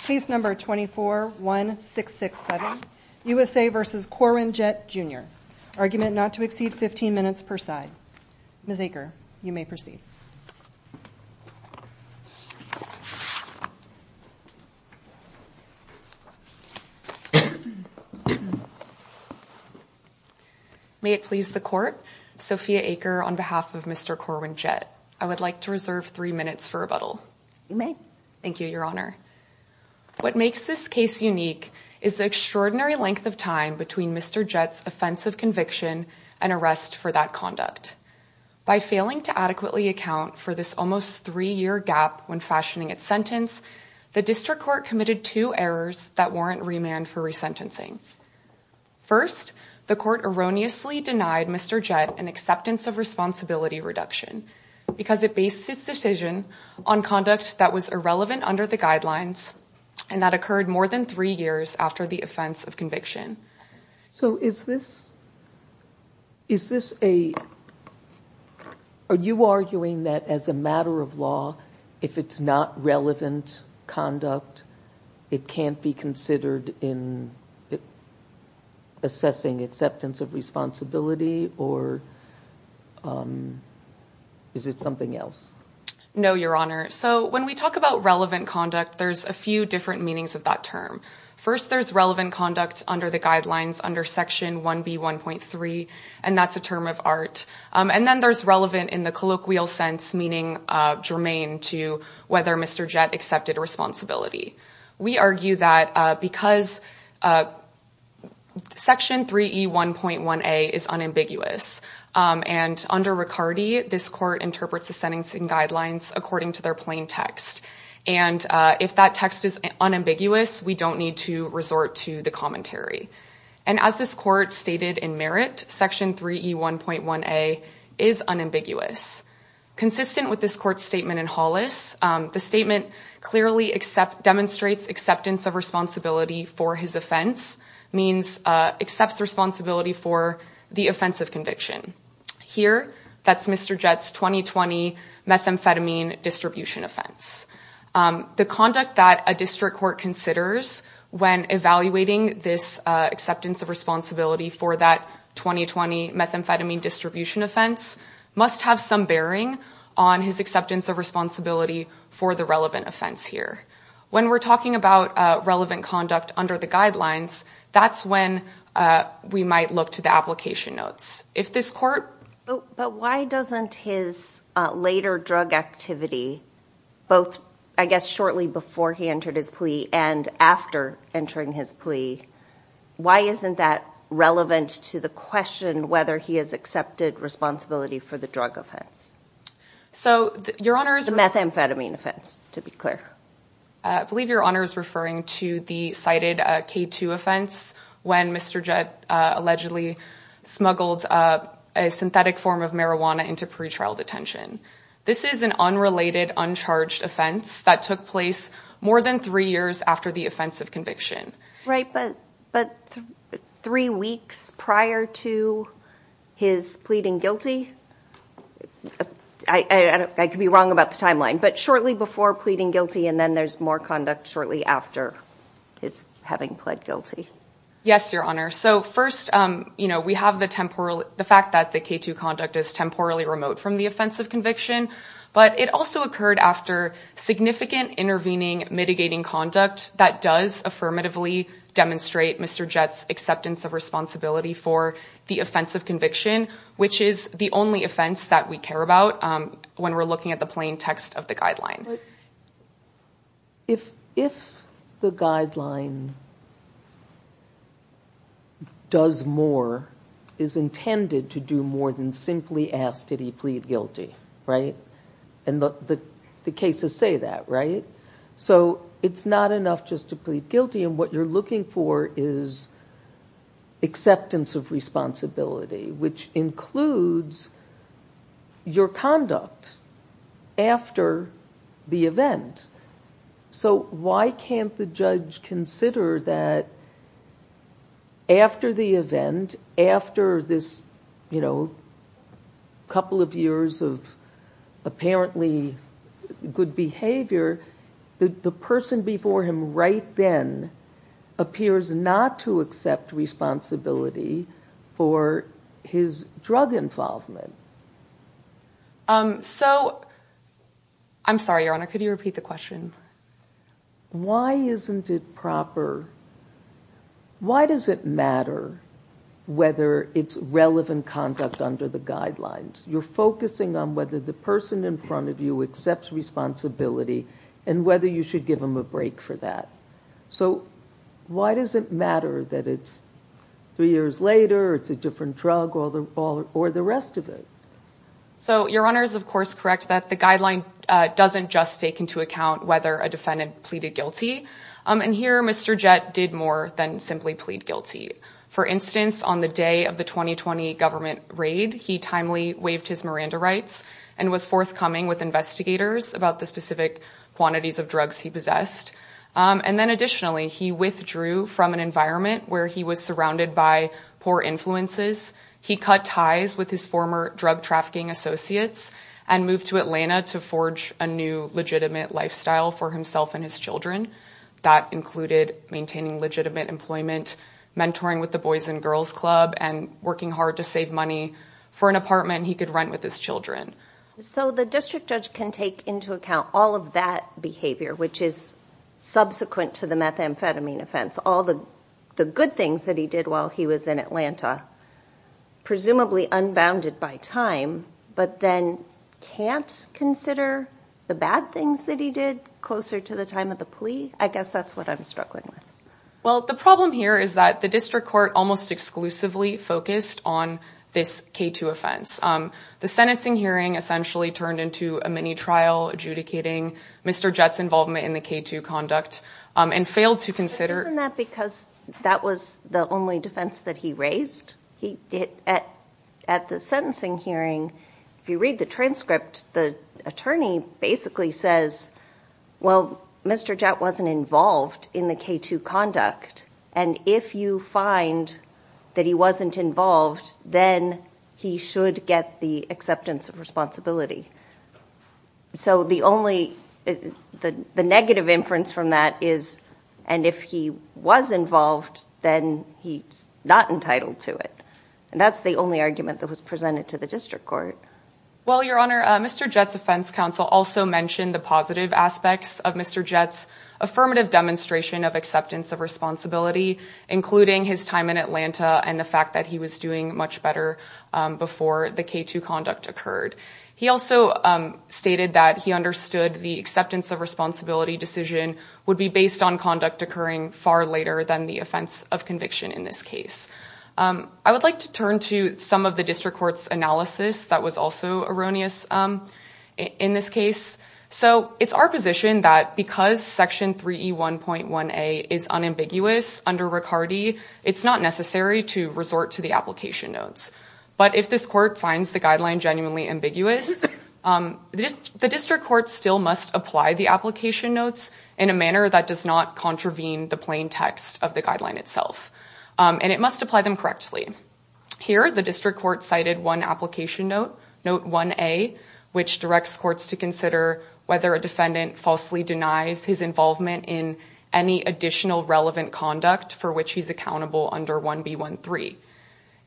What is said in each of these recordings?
Case No. 241667, USA v. Corwin Jett Jr. Argument not to exceed 15 minutes per side. Ms. Aker, you may proceed. May it please the Court, Sophia Aker on behalf of Mr. Corwin Jett. I would like to reserve three minutes for rebuttal. You may. Thank you, Your Honor. What makes this case unique is the extraordinary length of time between Mr. Jett's offense of conviction and arrest for that conduct. By failing to adequately account for this almost three-year gap when fashioning its sentence, the District Court committed two errors that warrant remand for resentencing. First, the Court erroneously denied Mr. Jett an acceptance of responsibility reduction because it based its decision on conduct that was irrelevant under the guidelines and that occurred more than three years after the offense of conviction. So is this a... Are you arguing that as a matter of law, if it's not relevant conduct, it can't be considered in assessing acceptance of responsibility, or is it something else? No, Your Honor. So when we talk about relevant conduct, there's a few different meanings of that term. First, there's relevant conduct under the guidelines under Section 1B1.3, and that's a term of art. And then there's relevant in the colloquial sense, meaning germane to whether Mr. Jett accepted responsibility. We argue that because Section 3E1.1a is unambiguous and under Riccardi, this Court interprets the sentencing guidelines according to their plain text. And if that text is unambiguous, we don't need to resort to the commentary. And as this Court stated in merit, Section 3E1.1a is unambiguous. Consistent with this Court's statement in Hollis, the statement clearly demonstrates acceptance of responsibility for his offense, means accepts responsibility for the offense of conviction. Here, that's Mr. Jett's 2020 methamphetamine distribution offense. The conduct that a district court considers when evaluating this acceptance of responsibility for that 2020 methamphetamine distribution offense must have some bearing on his acceptance of responsibility for the relevant offense here. When we're talking about relevant conduct under the guidelines, that's when we might look to the application notes. If this Court... But why doesn't his later drug activity, both, I guess, shortly before he entered his plea and after entering his plea, why isn't that relevant to the question whether he has accepted responsibility for the drug offense? So, Your Honor... The methamphetamine offense, to be clear. I believe Your Honor is referring to the cited K2 offense when Mr. Jett allegedly smuggled a synthetic form of marijuana into pretrial detention. This is an unrelated, uncharged offense that took place more than three years after the offense of conviction. Right, but three weeks prior to his pleading guilty... I could be wrong about the timeline, but shortly before pleading guilty and then there's more conduct shortly after his having pled guilty. Yes, Your Honor. So, first, we have the fact that the K2 conduct is temporally remote from the offense of conviction, but it also occurred after significant intervening, mitigating conduct that does affirmatively demonstrate Mr. Jett's acceptance of responsibility for the offense of conviction, which is the only offense that we care about when we're looking at the plain text of the guideline. If the guideline does more, is intended to do more than simply ask that he plead guilty, right? And the cases say that, right? So it's not enough just to plead guilty, and what you're looking for is acceptance of responsibility, which includes your conduct after the event. So why can't the judge consider that after the event, after this couple of years of apparently good behavior, the person before him right then appears not to accept responsibility for his drug involvement? So, I'm sorry, Your Honor, could you repeat the question? Why isn't it proper? Why does it matter whether it's relevant conduct under the guidelines? You're focusing on whether the person in front of you accepts responsibility and whether you should give them a break for that. So why does it matter that it's three years later, it's a different drug, or the rest of it? So, Your Honor is of course correct that the guideline doesn't just take into account whether a defendant pleaded guilty, and here Mr. Jett did more than simply plead guilty. For instance, on the day of the 2020 government raid, he timely waived his Miranda rights and was forthcoming with investigators about the specific quantities of drugs he possessed, and then additionally he withdrew from an environment where he was surrounded by poor influences. He cut ties with his former drug trafficking associates and moved to Atlanta to forge a new legitimate lifestyle for himself and his children. That included maintaining legitimate employment, mentoring with the Boys and Girls Club, and working hard to save money for an apartment he could rent with his children. So the district judge can take into account all of that behavior, which is subsequent to the methamphetamine offense, all the good things that he did while he was in Atlanta, presumably unbounded by time, but then can't consider the bad things that he did closer to the time of the plea? I guess that's what I'm struggling with. Well, the problem here is that the district court almost exclusively focused on this K2 offense. The sentencing hearing essentially turned into a mini trial adjudicating Mr. Jett's involvement in the K2 conduct and failed to consider... Isn't that because that was the only defense that he raised? At the sentencing hearing, if you read the transcript, the attorney basically says, well, Mr. Jett wasn't involved in the K2 conduct, and if you find that he wasn't involved, then he should get the acceptance of responsibility. So the only... The negative inference from that is, and if he was involved, then he's not entitled to it. And that's the only argument that was presented to the district court. Well, Your Honor, Mr. Jett's offense counsel also mentioned the positive aspects of Mr. Jett's affirmative demonstration of acceptance of responsibility, including his time in Atlanta and the fact that he was doing much better before the K2 conduct occurred. He also stated that he understood the acceptance of responsibility decision would be based on conduct occurring far later than the offense of conviction in this case. I would like to turn to some of the district court's analysis that was also erroneous in this case. So it's our position that because Section 3E1.1A is unambiguous under Riccardi, it's not necessary to resort to the application notes. But if this court finds the guideline genuinely ambiguous, the district court still must apply the application notes in a manner that does not contravene the plain text of the guideline itself. And it must apply them correctly. Here, the district court cited one application note, note 1A, which directs courts to consider whether a defendant falsely denies his involvement in any additional relevant conduct for which he's accountable under 1B13.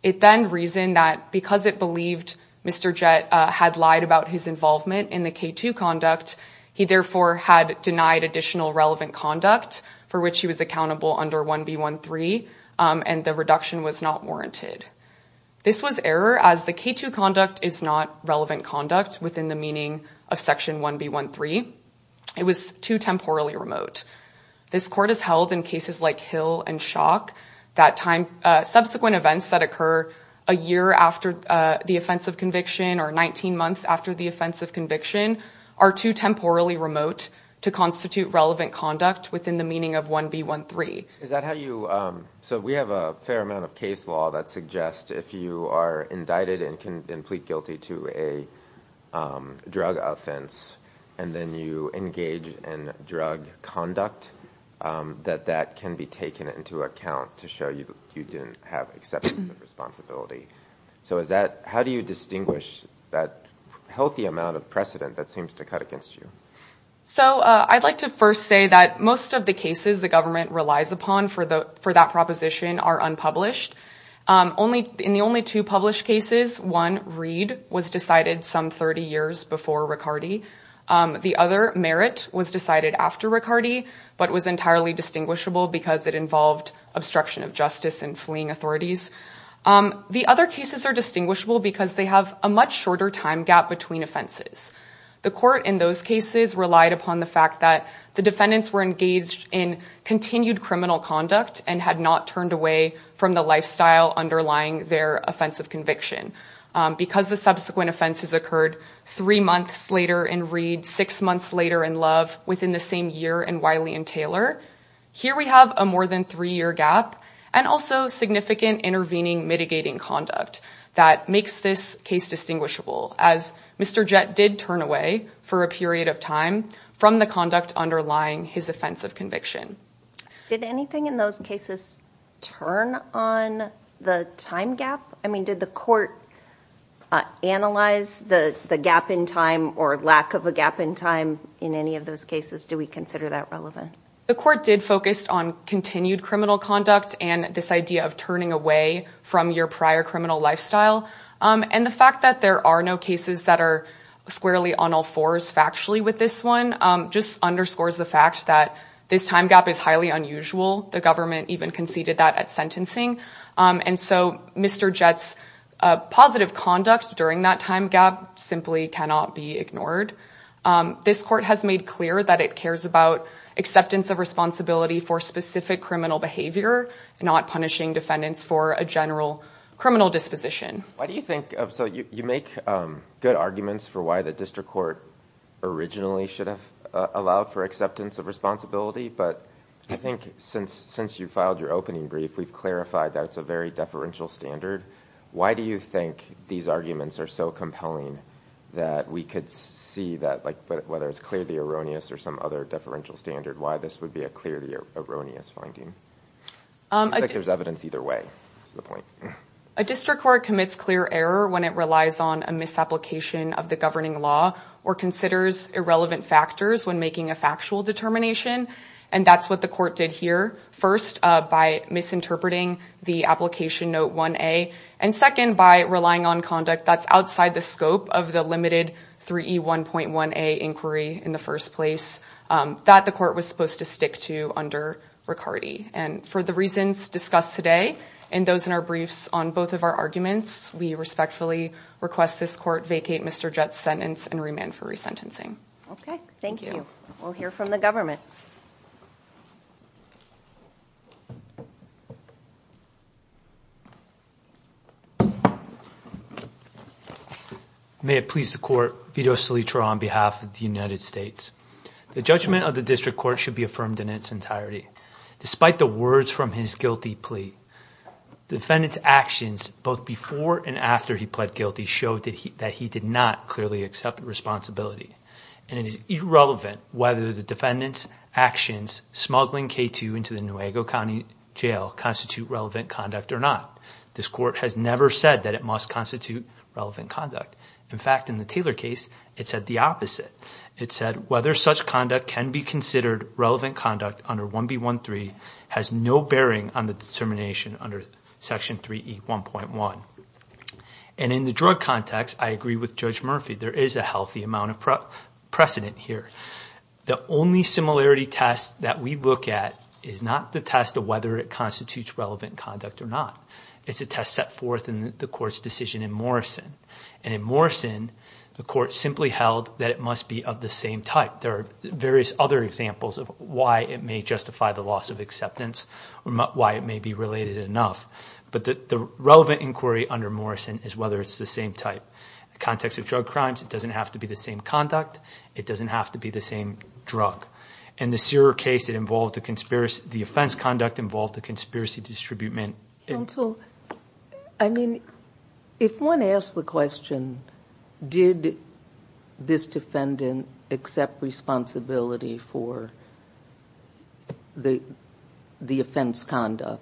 It then reasoned that because it believed Mr. Jett had lied about his involvement in the K2 conduct, he therefore had denied additional relevant conduct for which he was accountable under 1B13, and the reduction was not warranted. This was error as the K2 conduct is not relevant conduct within the meaning of Section 1B13. It was too temporally remote. This court has held in cases like Hill and Shock that subsequent events that occur a year after the offense of conviction or 19 months after the offense of conviction are too temporally remote to constitute relevant conduct within the meaning of 1B13. Is that how you... So we have a fair amount of case law that suggests if you are indicted and plead guilty to a drug offense and then you engage in drug conduct, that that can be taken into account to show you didn't have acceptance of responsibility. So how do you distinguish that healthy amount of precedent that seems to cut against you? So I'd like to first say that most of the cases the government relies upon for that proposition are unpublished. In the only two published cases, one, Reed, was decided some 30 years before Riccardi. The other, Merritt, was decided after Riccardi, but was entirely distinguishable because it involved obstruction of justice and fleeing authorities. The other cases are distinguishable because they have a much shorter time gap between offenses. The court in those cases relied upon the fact that the defendants were engaged in continued criminal conduct and had not turned away from the lifestyle underlying their offense of conviction. Because the subsequent offenses occurred three months later in Reed, six months later in Love, within the same year in Wiley and Taylor, here we have a more than three-year gap and also significant intervening mitigating conduct that makes this case distinguishable as Mr. Jett did turn away for a period of time from the conduct underlying his offense of conviction. Did anything in those cases turn on the time gap? I mean, did the court analyze the gap in time or lack of a gap in time in any of those cases? Do we consider that relevant? The court did focus on continued criminal conduct and this idea of turning away from your prior criminal lifestyle. And the fact that there are no cases that are squarely on all fours factually with this one just underscores the fact that this time gap is highly unusual. The government even conceded that at sentencing. And so Mr. Jett's positive conduct during that time gap simply cannot be ignored. This court has made clear that it cares about acceptance of responsibility for specific criminal behavior, not punishing defendants for a general criminal disposition. Why do you think, so you make good arguments for why the district court originally should have allowed for acceptance of responsibility, but I think since you filed your opening brief, we've clarified that it's a very deferential standard. Why do you think these arguments are so compelling that we could see that, whether it's clearly erroneous or some other deferential standard, why this would be a clearly erroneous finding? I think there's evidence either way. That's the point. A district court commits clear error when it relies on a misapplication of the governing law or considers irrelevant factors when making a factual determination. And that's what the court did here. First, by misinterpreting the application note 1A and second, by relying on conduct that's outside the scope of the limited 3E1.1A inquiry in the first place that the court was supposed to stick to under Riccardi. And for the reasons discussed today and those in our briefs on both of our arguments, we respectfully request this court vacate Mr. Jett's sentence and remand for resentencing. Okay, thank you. We'll hear from the government. May it please the court, Vito Salitro on behalf of the United States. The judgment of the district court should be affirmed in its entirety. Despite the words from his guilty plea, the defendant's actions both before and after he pled guilty showed that he did not clearly accept responsibility. And it is irrelevant whether the defendant's actions smuggling K2 into the Nuevo County Jail constitute relevant conduct or not. This court has never said that it must constitute relevant conduct. In fact, in the Taylor case, it said the opposite. It said whether such conduct can be considered relevant conduct under 1B13 has no bearing on the determination under Section 3E1.1. And in the drug context, I agree with Judge Murphy. There is a healthy amount of precedent here. The only similarity test that we look at is not the test of whether it constitutes relevant conduct or not. It's a test set forth in the court's decision in Morrison. And in Morrison, the court simply held that it must be of the same type. There are various other examples of why it may justify the loss of acceptance or why it may be related enough. But the relevant inquiry under Morrison is whether it's the same type. In the context of drug crimes, it doesn't have to be the same conduct. It doesn't have to be the same drug. In the Searer case, it involved a conspiracy. The offense conduct involved a conspiracy distributement. Counsel, I mean, if one asks the question, did this defendant accept responsibility for the offense conduct?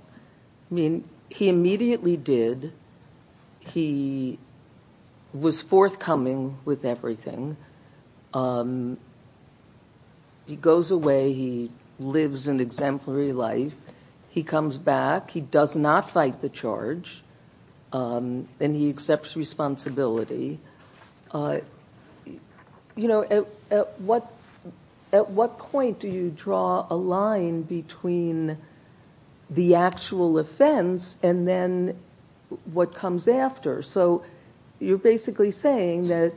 I mean, he immediately did. He was forthcoming with everything. He goes away. He lives an exemplary life. He comes back. He does not fight the charge. And he accepts responsibility. You know, at what point do you draw a line between the actual offense and then what comes after? So you're basically saying that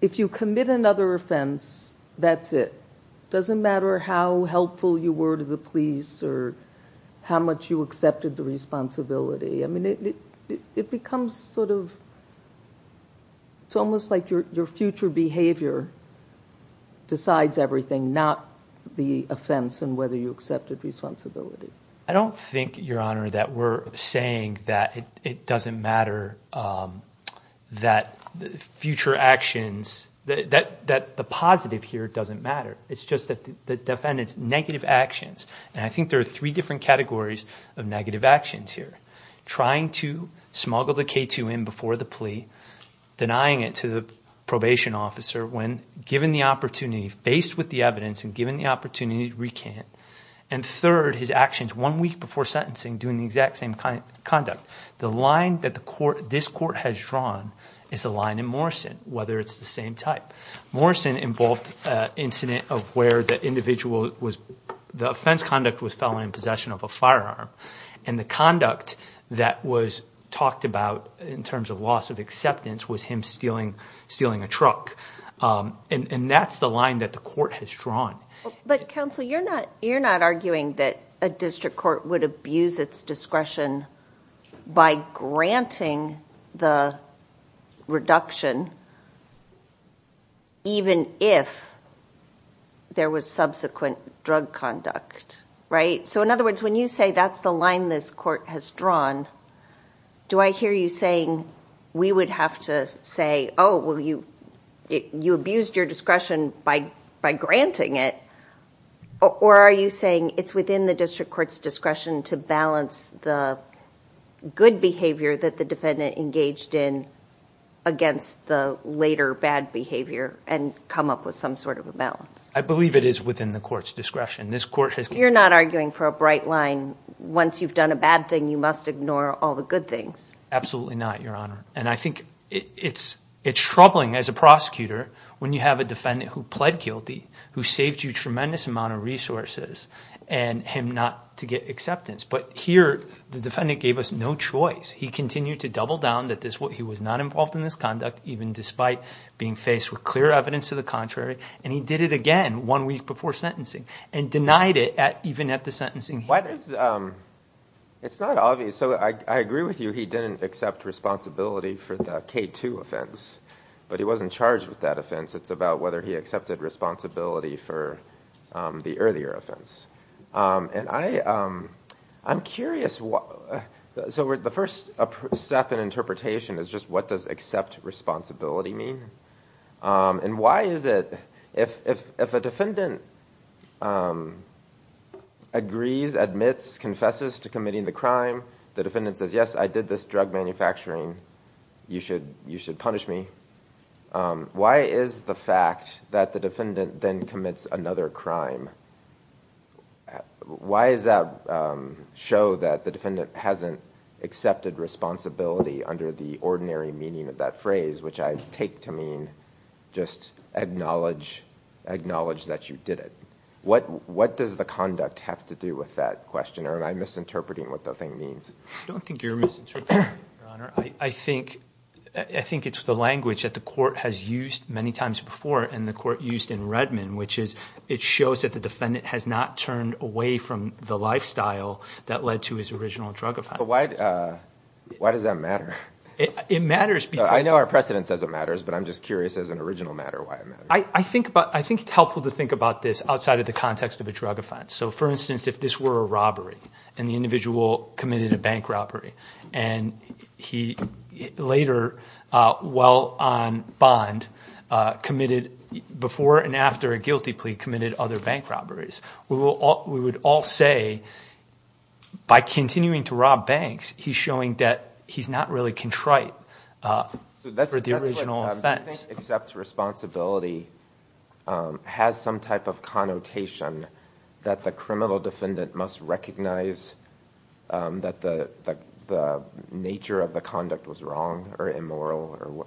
if you commit another offense, that's it. It doesn't matter how helpful you were to the police or how much you accepted the responsibility. I mean, it becomes sort of, it's almost like your future behavior decides everything, not the offense and whether you accepted responsibility. I don't think, Your Honor, that we're saying that it doesn't matter that future actions, that the positive here doesn't matter. It's just that the defendant's negative actions, and I think there are three different categories of negative actions here. Trying to smuggle the K2 in before the plea, denying it to the probation officer when given the opportunity, faced with the evidence and given the opportunity to recant. And third, his actions one week before sentencing doing the exact same conduct. The line that this court has drawn is the line in Morrison, whether it's the same type. Morrison involved an incident of where the individual was, the offense conduct was felon in possession of a firearm, and the conduct that was talked about in terms of loss of acceptance was him stealing a truck. And that's the line that the court has drawn. But, counsel, you're not arguing that a district court would abuse its discretion by granting the reduction even if there was subsequent drug conduct, right? So, in other words, when you say that's the line this court has drawn, do I hear you saying we would have to say, oh, well, you abused your discretion by granting it, or are you saying it's within the district court's discretion to balance the good behavior that the defendant engaged in against the later bad behavior and come up with some sort of a balance? I believe it is within the court's discretion. You're not arguing for a bright line, once you've done a bad thing, you must ignore all the good things? Absolutely not, Your Honor. And I think it's troubling as a prosecutor when you have a defendant who pled guilty, who saved you a tremendous amount of resources, and him not to get acceptance. But here, the defendant gave us no choice. He continued to double down that he was not involved in this conduct, even despite being faced with clear evidence to the contrary, and he did it again one week before sentencing and denied it even at the sentencing hearing. It's not obvious. So I agree with you, he didn't accept responsibility for the K-2 offense, but he wasn't charged with that offense. It's about whether he accepted responsibility for the earlier offense. And I'm curious, so the first step in interpretation is just what does accept responsibility mean? And why is it, if a defendant agrees, admits, confesses to committing the crime, the defendant says, yes, I did this drug manufacturing, you should punish me. Why is the fact that the defendant then commits another crime, why does that show that the defendant hasn't accepted responsibility under the ordinary meaning of that phrase, which I take to mean just acknowledge that you did it? What does the conduct have to do with that question, or am I misinterpreting what the thing means? I don't think you're misinterpreting it, Your Honor. I think it's the language that the court has used many times before and the court used in Redmond, which is it shows that the defendant has not turned away from the lifestyle that led to his original drug offense. But why does that matter? It matters because... I know our precedent says it matters, but I'm just curious as an original matter why it matters. I think it's helpful to think about this outside of the context of a drug offense. So, for instance, if this were a robbery and the individual committed a bank robbery and he later, while on bond, committed, before and after a guilty plea, committed other bank robberies, we would all say by continuing to rob banks, he's showing that he's not really contrite for the original offense. That's what I'm saying. Accepts responsibility has some type of connotation that the criminal defendant must recognize that the nature of the conduct was wrong or immoral or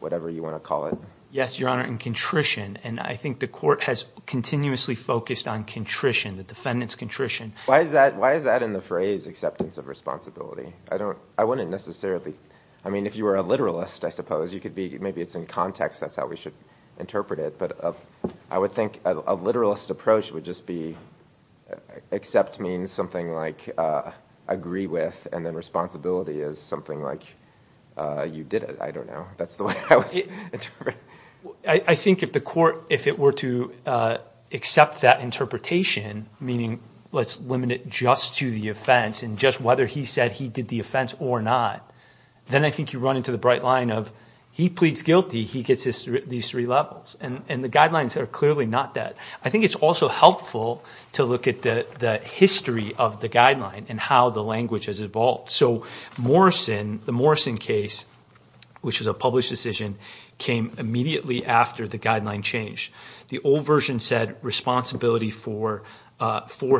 whatever you want to call it. Yes, Your Honor, and contrition. And I think the court has continuously focused on contrition, the defendant's contrition. Why is that in the phrase acceptance of responsibility? I wouldn't necessarily... I mean, if you were a literalist, I suppose, maybe it's in context, that's how we should interpret it. But I would think a literalist approach would just be accept means something like agree with and then responsibility is something like you did it. I don't know. That's the way I would interpret it. I think if the court, if it were to accept that interpretation, meaning let's limit it just to the offense and just whether he said he did the offense or not, then I think you run into the bright line of he pleads guilty, he gets these three levels. And the guidelines are clearly not that. I think it's also helpful to look at the history of the guideline and how the language has evolved. So the Morrison case, which was a published decision, came immediately after the guideline change. The old version said responsibility for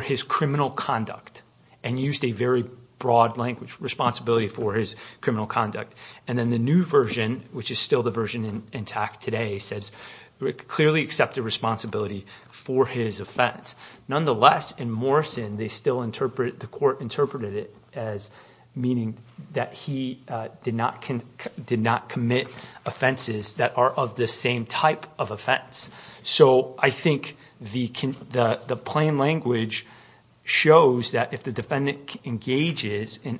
his criminal conduct and used a very broad language, responsibility for his criminal conduct. And then the new version, which is still the version intact today, clearly accepted responsibility for his offense. Nonetheless, in Morrison, the court interpreted it as meaning that he did not commit offenses that are of the same type of offense. So I think the plain language shows that if the defendant engages in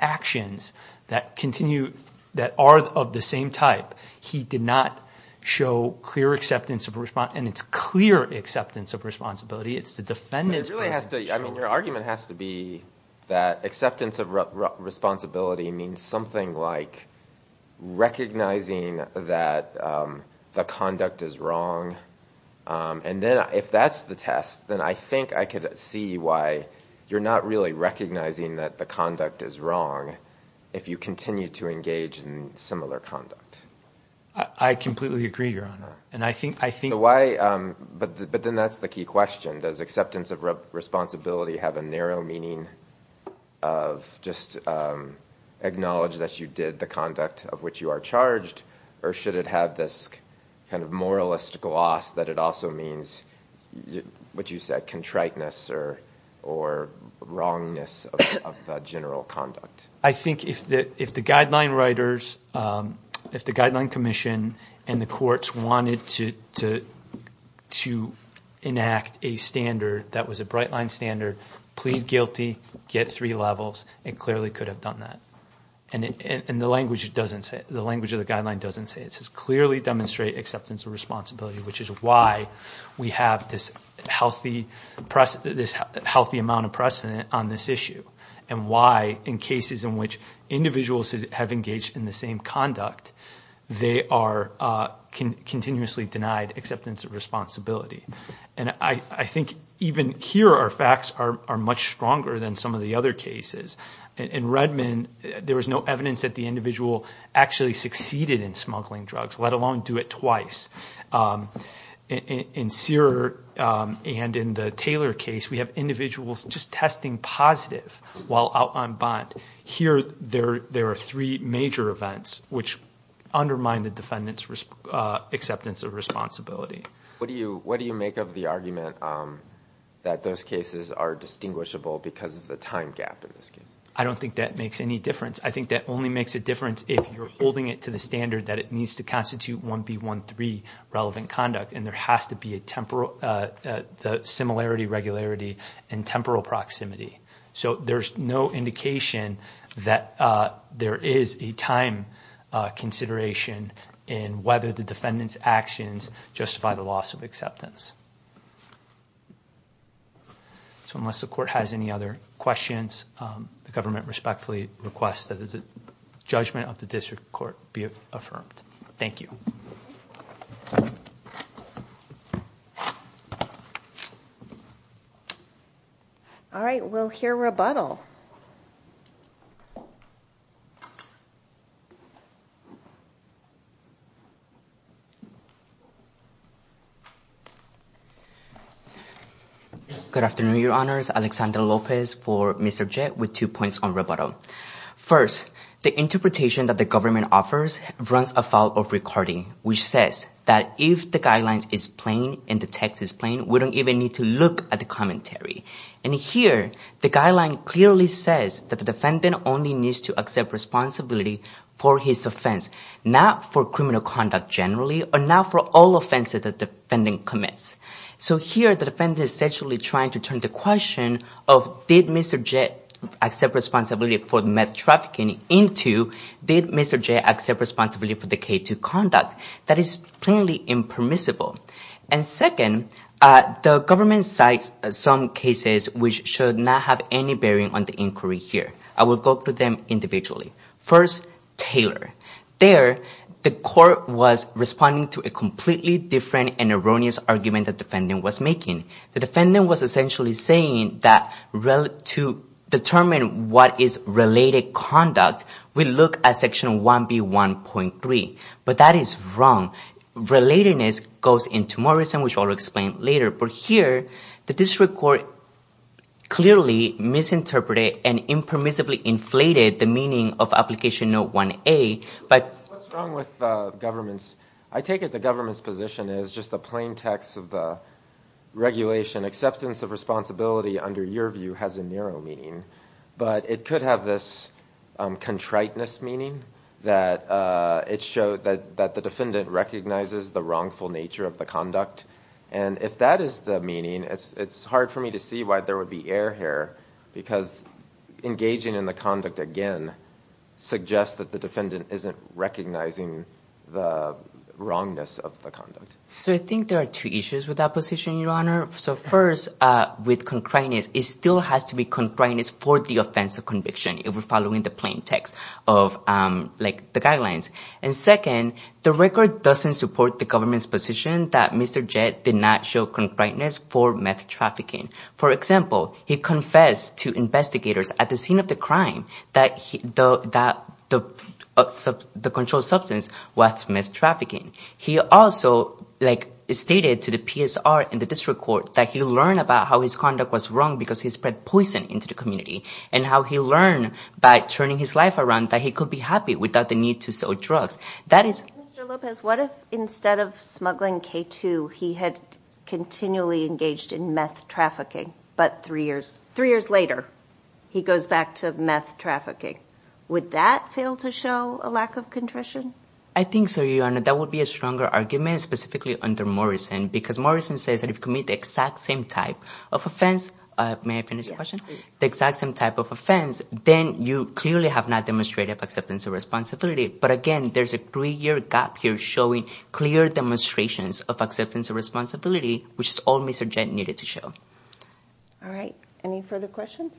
actions that are of the same type, he did not show clear acceptance of responsibility. And it's clear acceptance of responsibility. It's the defendant's point of view. I mean, your argument has to be that acceptance of responsibility means something like recognizing that the conduct is wrong. And then if that's the test, then I think I could see why you're not really recognizing that the conduct is wrong if you continue to engage in similar conduct. I completely agree, Your Honor. But then that's the key question. Does acceptance of responsibility have a narrow meaning of just acknowledge that you did the conduct of which you are charged, or should it have this kind of moralistic loss that it also means what you said, a contriteness or wrongness of the general conduct? I think if the guideline writers, if the Guideline Commission and the courts wanted to enact a standard that was a bright-line standard, plead guilty, get three levels, it clearly could have done that. And the language of the guideline doesn't say it. It says clearly demonstrate acceptance of responsibility, which is why we have this healthy amount of precedent on this issue and why in cases in which individuals have engaged in the same conduct, they are continuously denied acceptance of responsibility. And I think even here our facts are much stronger than some of the other cases. In Redmond, there was no evidence that the individual actually succeeded in smuggling drugs, let alone do it twice. In Sear and in the Taylor case, we have individuals just testing positive while out on bond. Here there are three major events which undermine the defendant's acceptance of responsibility. What do you make of the argument that those cases are distinguishable because of the time gap in this case? I don't think that makes any difference. I think that only makes a difference if you're holding it to the standard that it needs to constitute 1B.1.3, relevant conduct, and there has to be a similarity, regularity, and temporal proximity. So there's no indication that there is a time consideration in whether the defendant's actions justify the loss of acceptance. So unless the court has any other questions, the government respectfully requests that the judgment of the district court be affirmed. Thank you. All right. We'll hear rebuttal. Good afternoon, Your Honors. Alexander Lopez for Mr. Jett with two points on rebuttal. First, the interpretation that the government offers runs afoul of recording, which says that if the guidelines is plain and the text is plain, we don't even need to look at the commentary. And here the guideline clearly says that the defendant only needs to accept responsibility for his offense, not for criminal conduct generally or not for all offenses that the defendant commits. So here the defendant is essentially trying to turn the question of did Mr. Jett accept responsibility for meth trafficking into did Mr. Jett accept responsibility for the K2 conduct. That is plainly impermissible. And second, the government cites some cases which should not have any bearing on the inquiry here. I will go through them individually. First, Taylor. There, the court was responding to a completely different and erroneous argument the defendant was making. The defendant was essentially saying that to determine what is related conduct, we look at Section 1B1.3. But that is wrong. Relatedness goes into more reason, which I'll explain later. But here, the district court clearly misinterpreted and impermissibly inflated the meaning of Application Note 1A. What's wrong with governments? I take it the government's position is just the plain text of the regulation. Acceptance of responsibility under your view has a narrow meaning. But it could have this contriteness meaning that it showed that the defendant recognizes the wrongful nature of the conduct. And if that is the meaning, it's hard for me to see why there would be error here, because engaging in the conduct again suggests that the defendant isn't recognizing the wrongness of the conduct. So I think there are two issues with that position, Your Honor. So first, with concreteness, it still has to be concreteness for the offense of conviction, if we're following the plain text of the guidelines. And second, the record doesn't support the government's position that Mr. Jett did not show concreteness for meth trafficking. For example, he confessed to investigators at the scene of the crime that the controlled substance was meth trafficking. He also, like, stated to the PSR and the district court that he learned about how his conduct was wrong because he spread poison into the community, and how he learned by turning his life around that he could be happy without the need to sell drugs. Mr. Lopez, what if instead of smuggling K2, he had continually engaged in meth trafficking, but three years later, he goes back to meth trafficking? Would that fail to show a lack of contrition? I think so, Your Honor. That would be a stronger argument, specifically under Morrison, because Morrison says that if you commit the exact same type of offense, may I finish your question? The exact same type of offense, then you clearly have not demonstrated acceptance of responsibility. But again, there's a three-year gap here showing clear demonstrations of acceptance of responsibility, which is all Mr. Jett needed to show. All right, any further questions?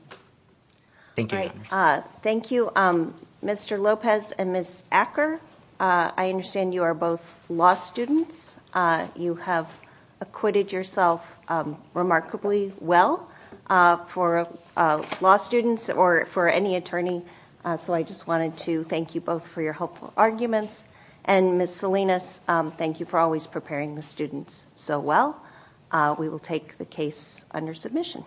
Thank you, Your Honor. Thank you, Mr. Lopez and Ms. Acker. I understand you are both law students. You have acquitted yourself remarkably well for law students or for any attorney, so I just wanted to thank you both for your helpful arguments. And Ms. Salinas, thank you for always preparing the students so well. We will take the case under submission.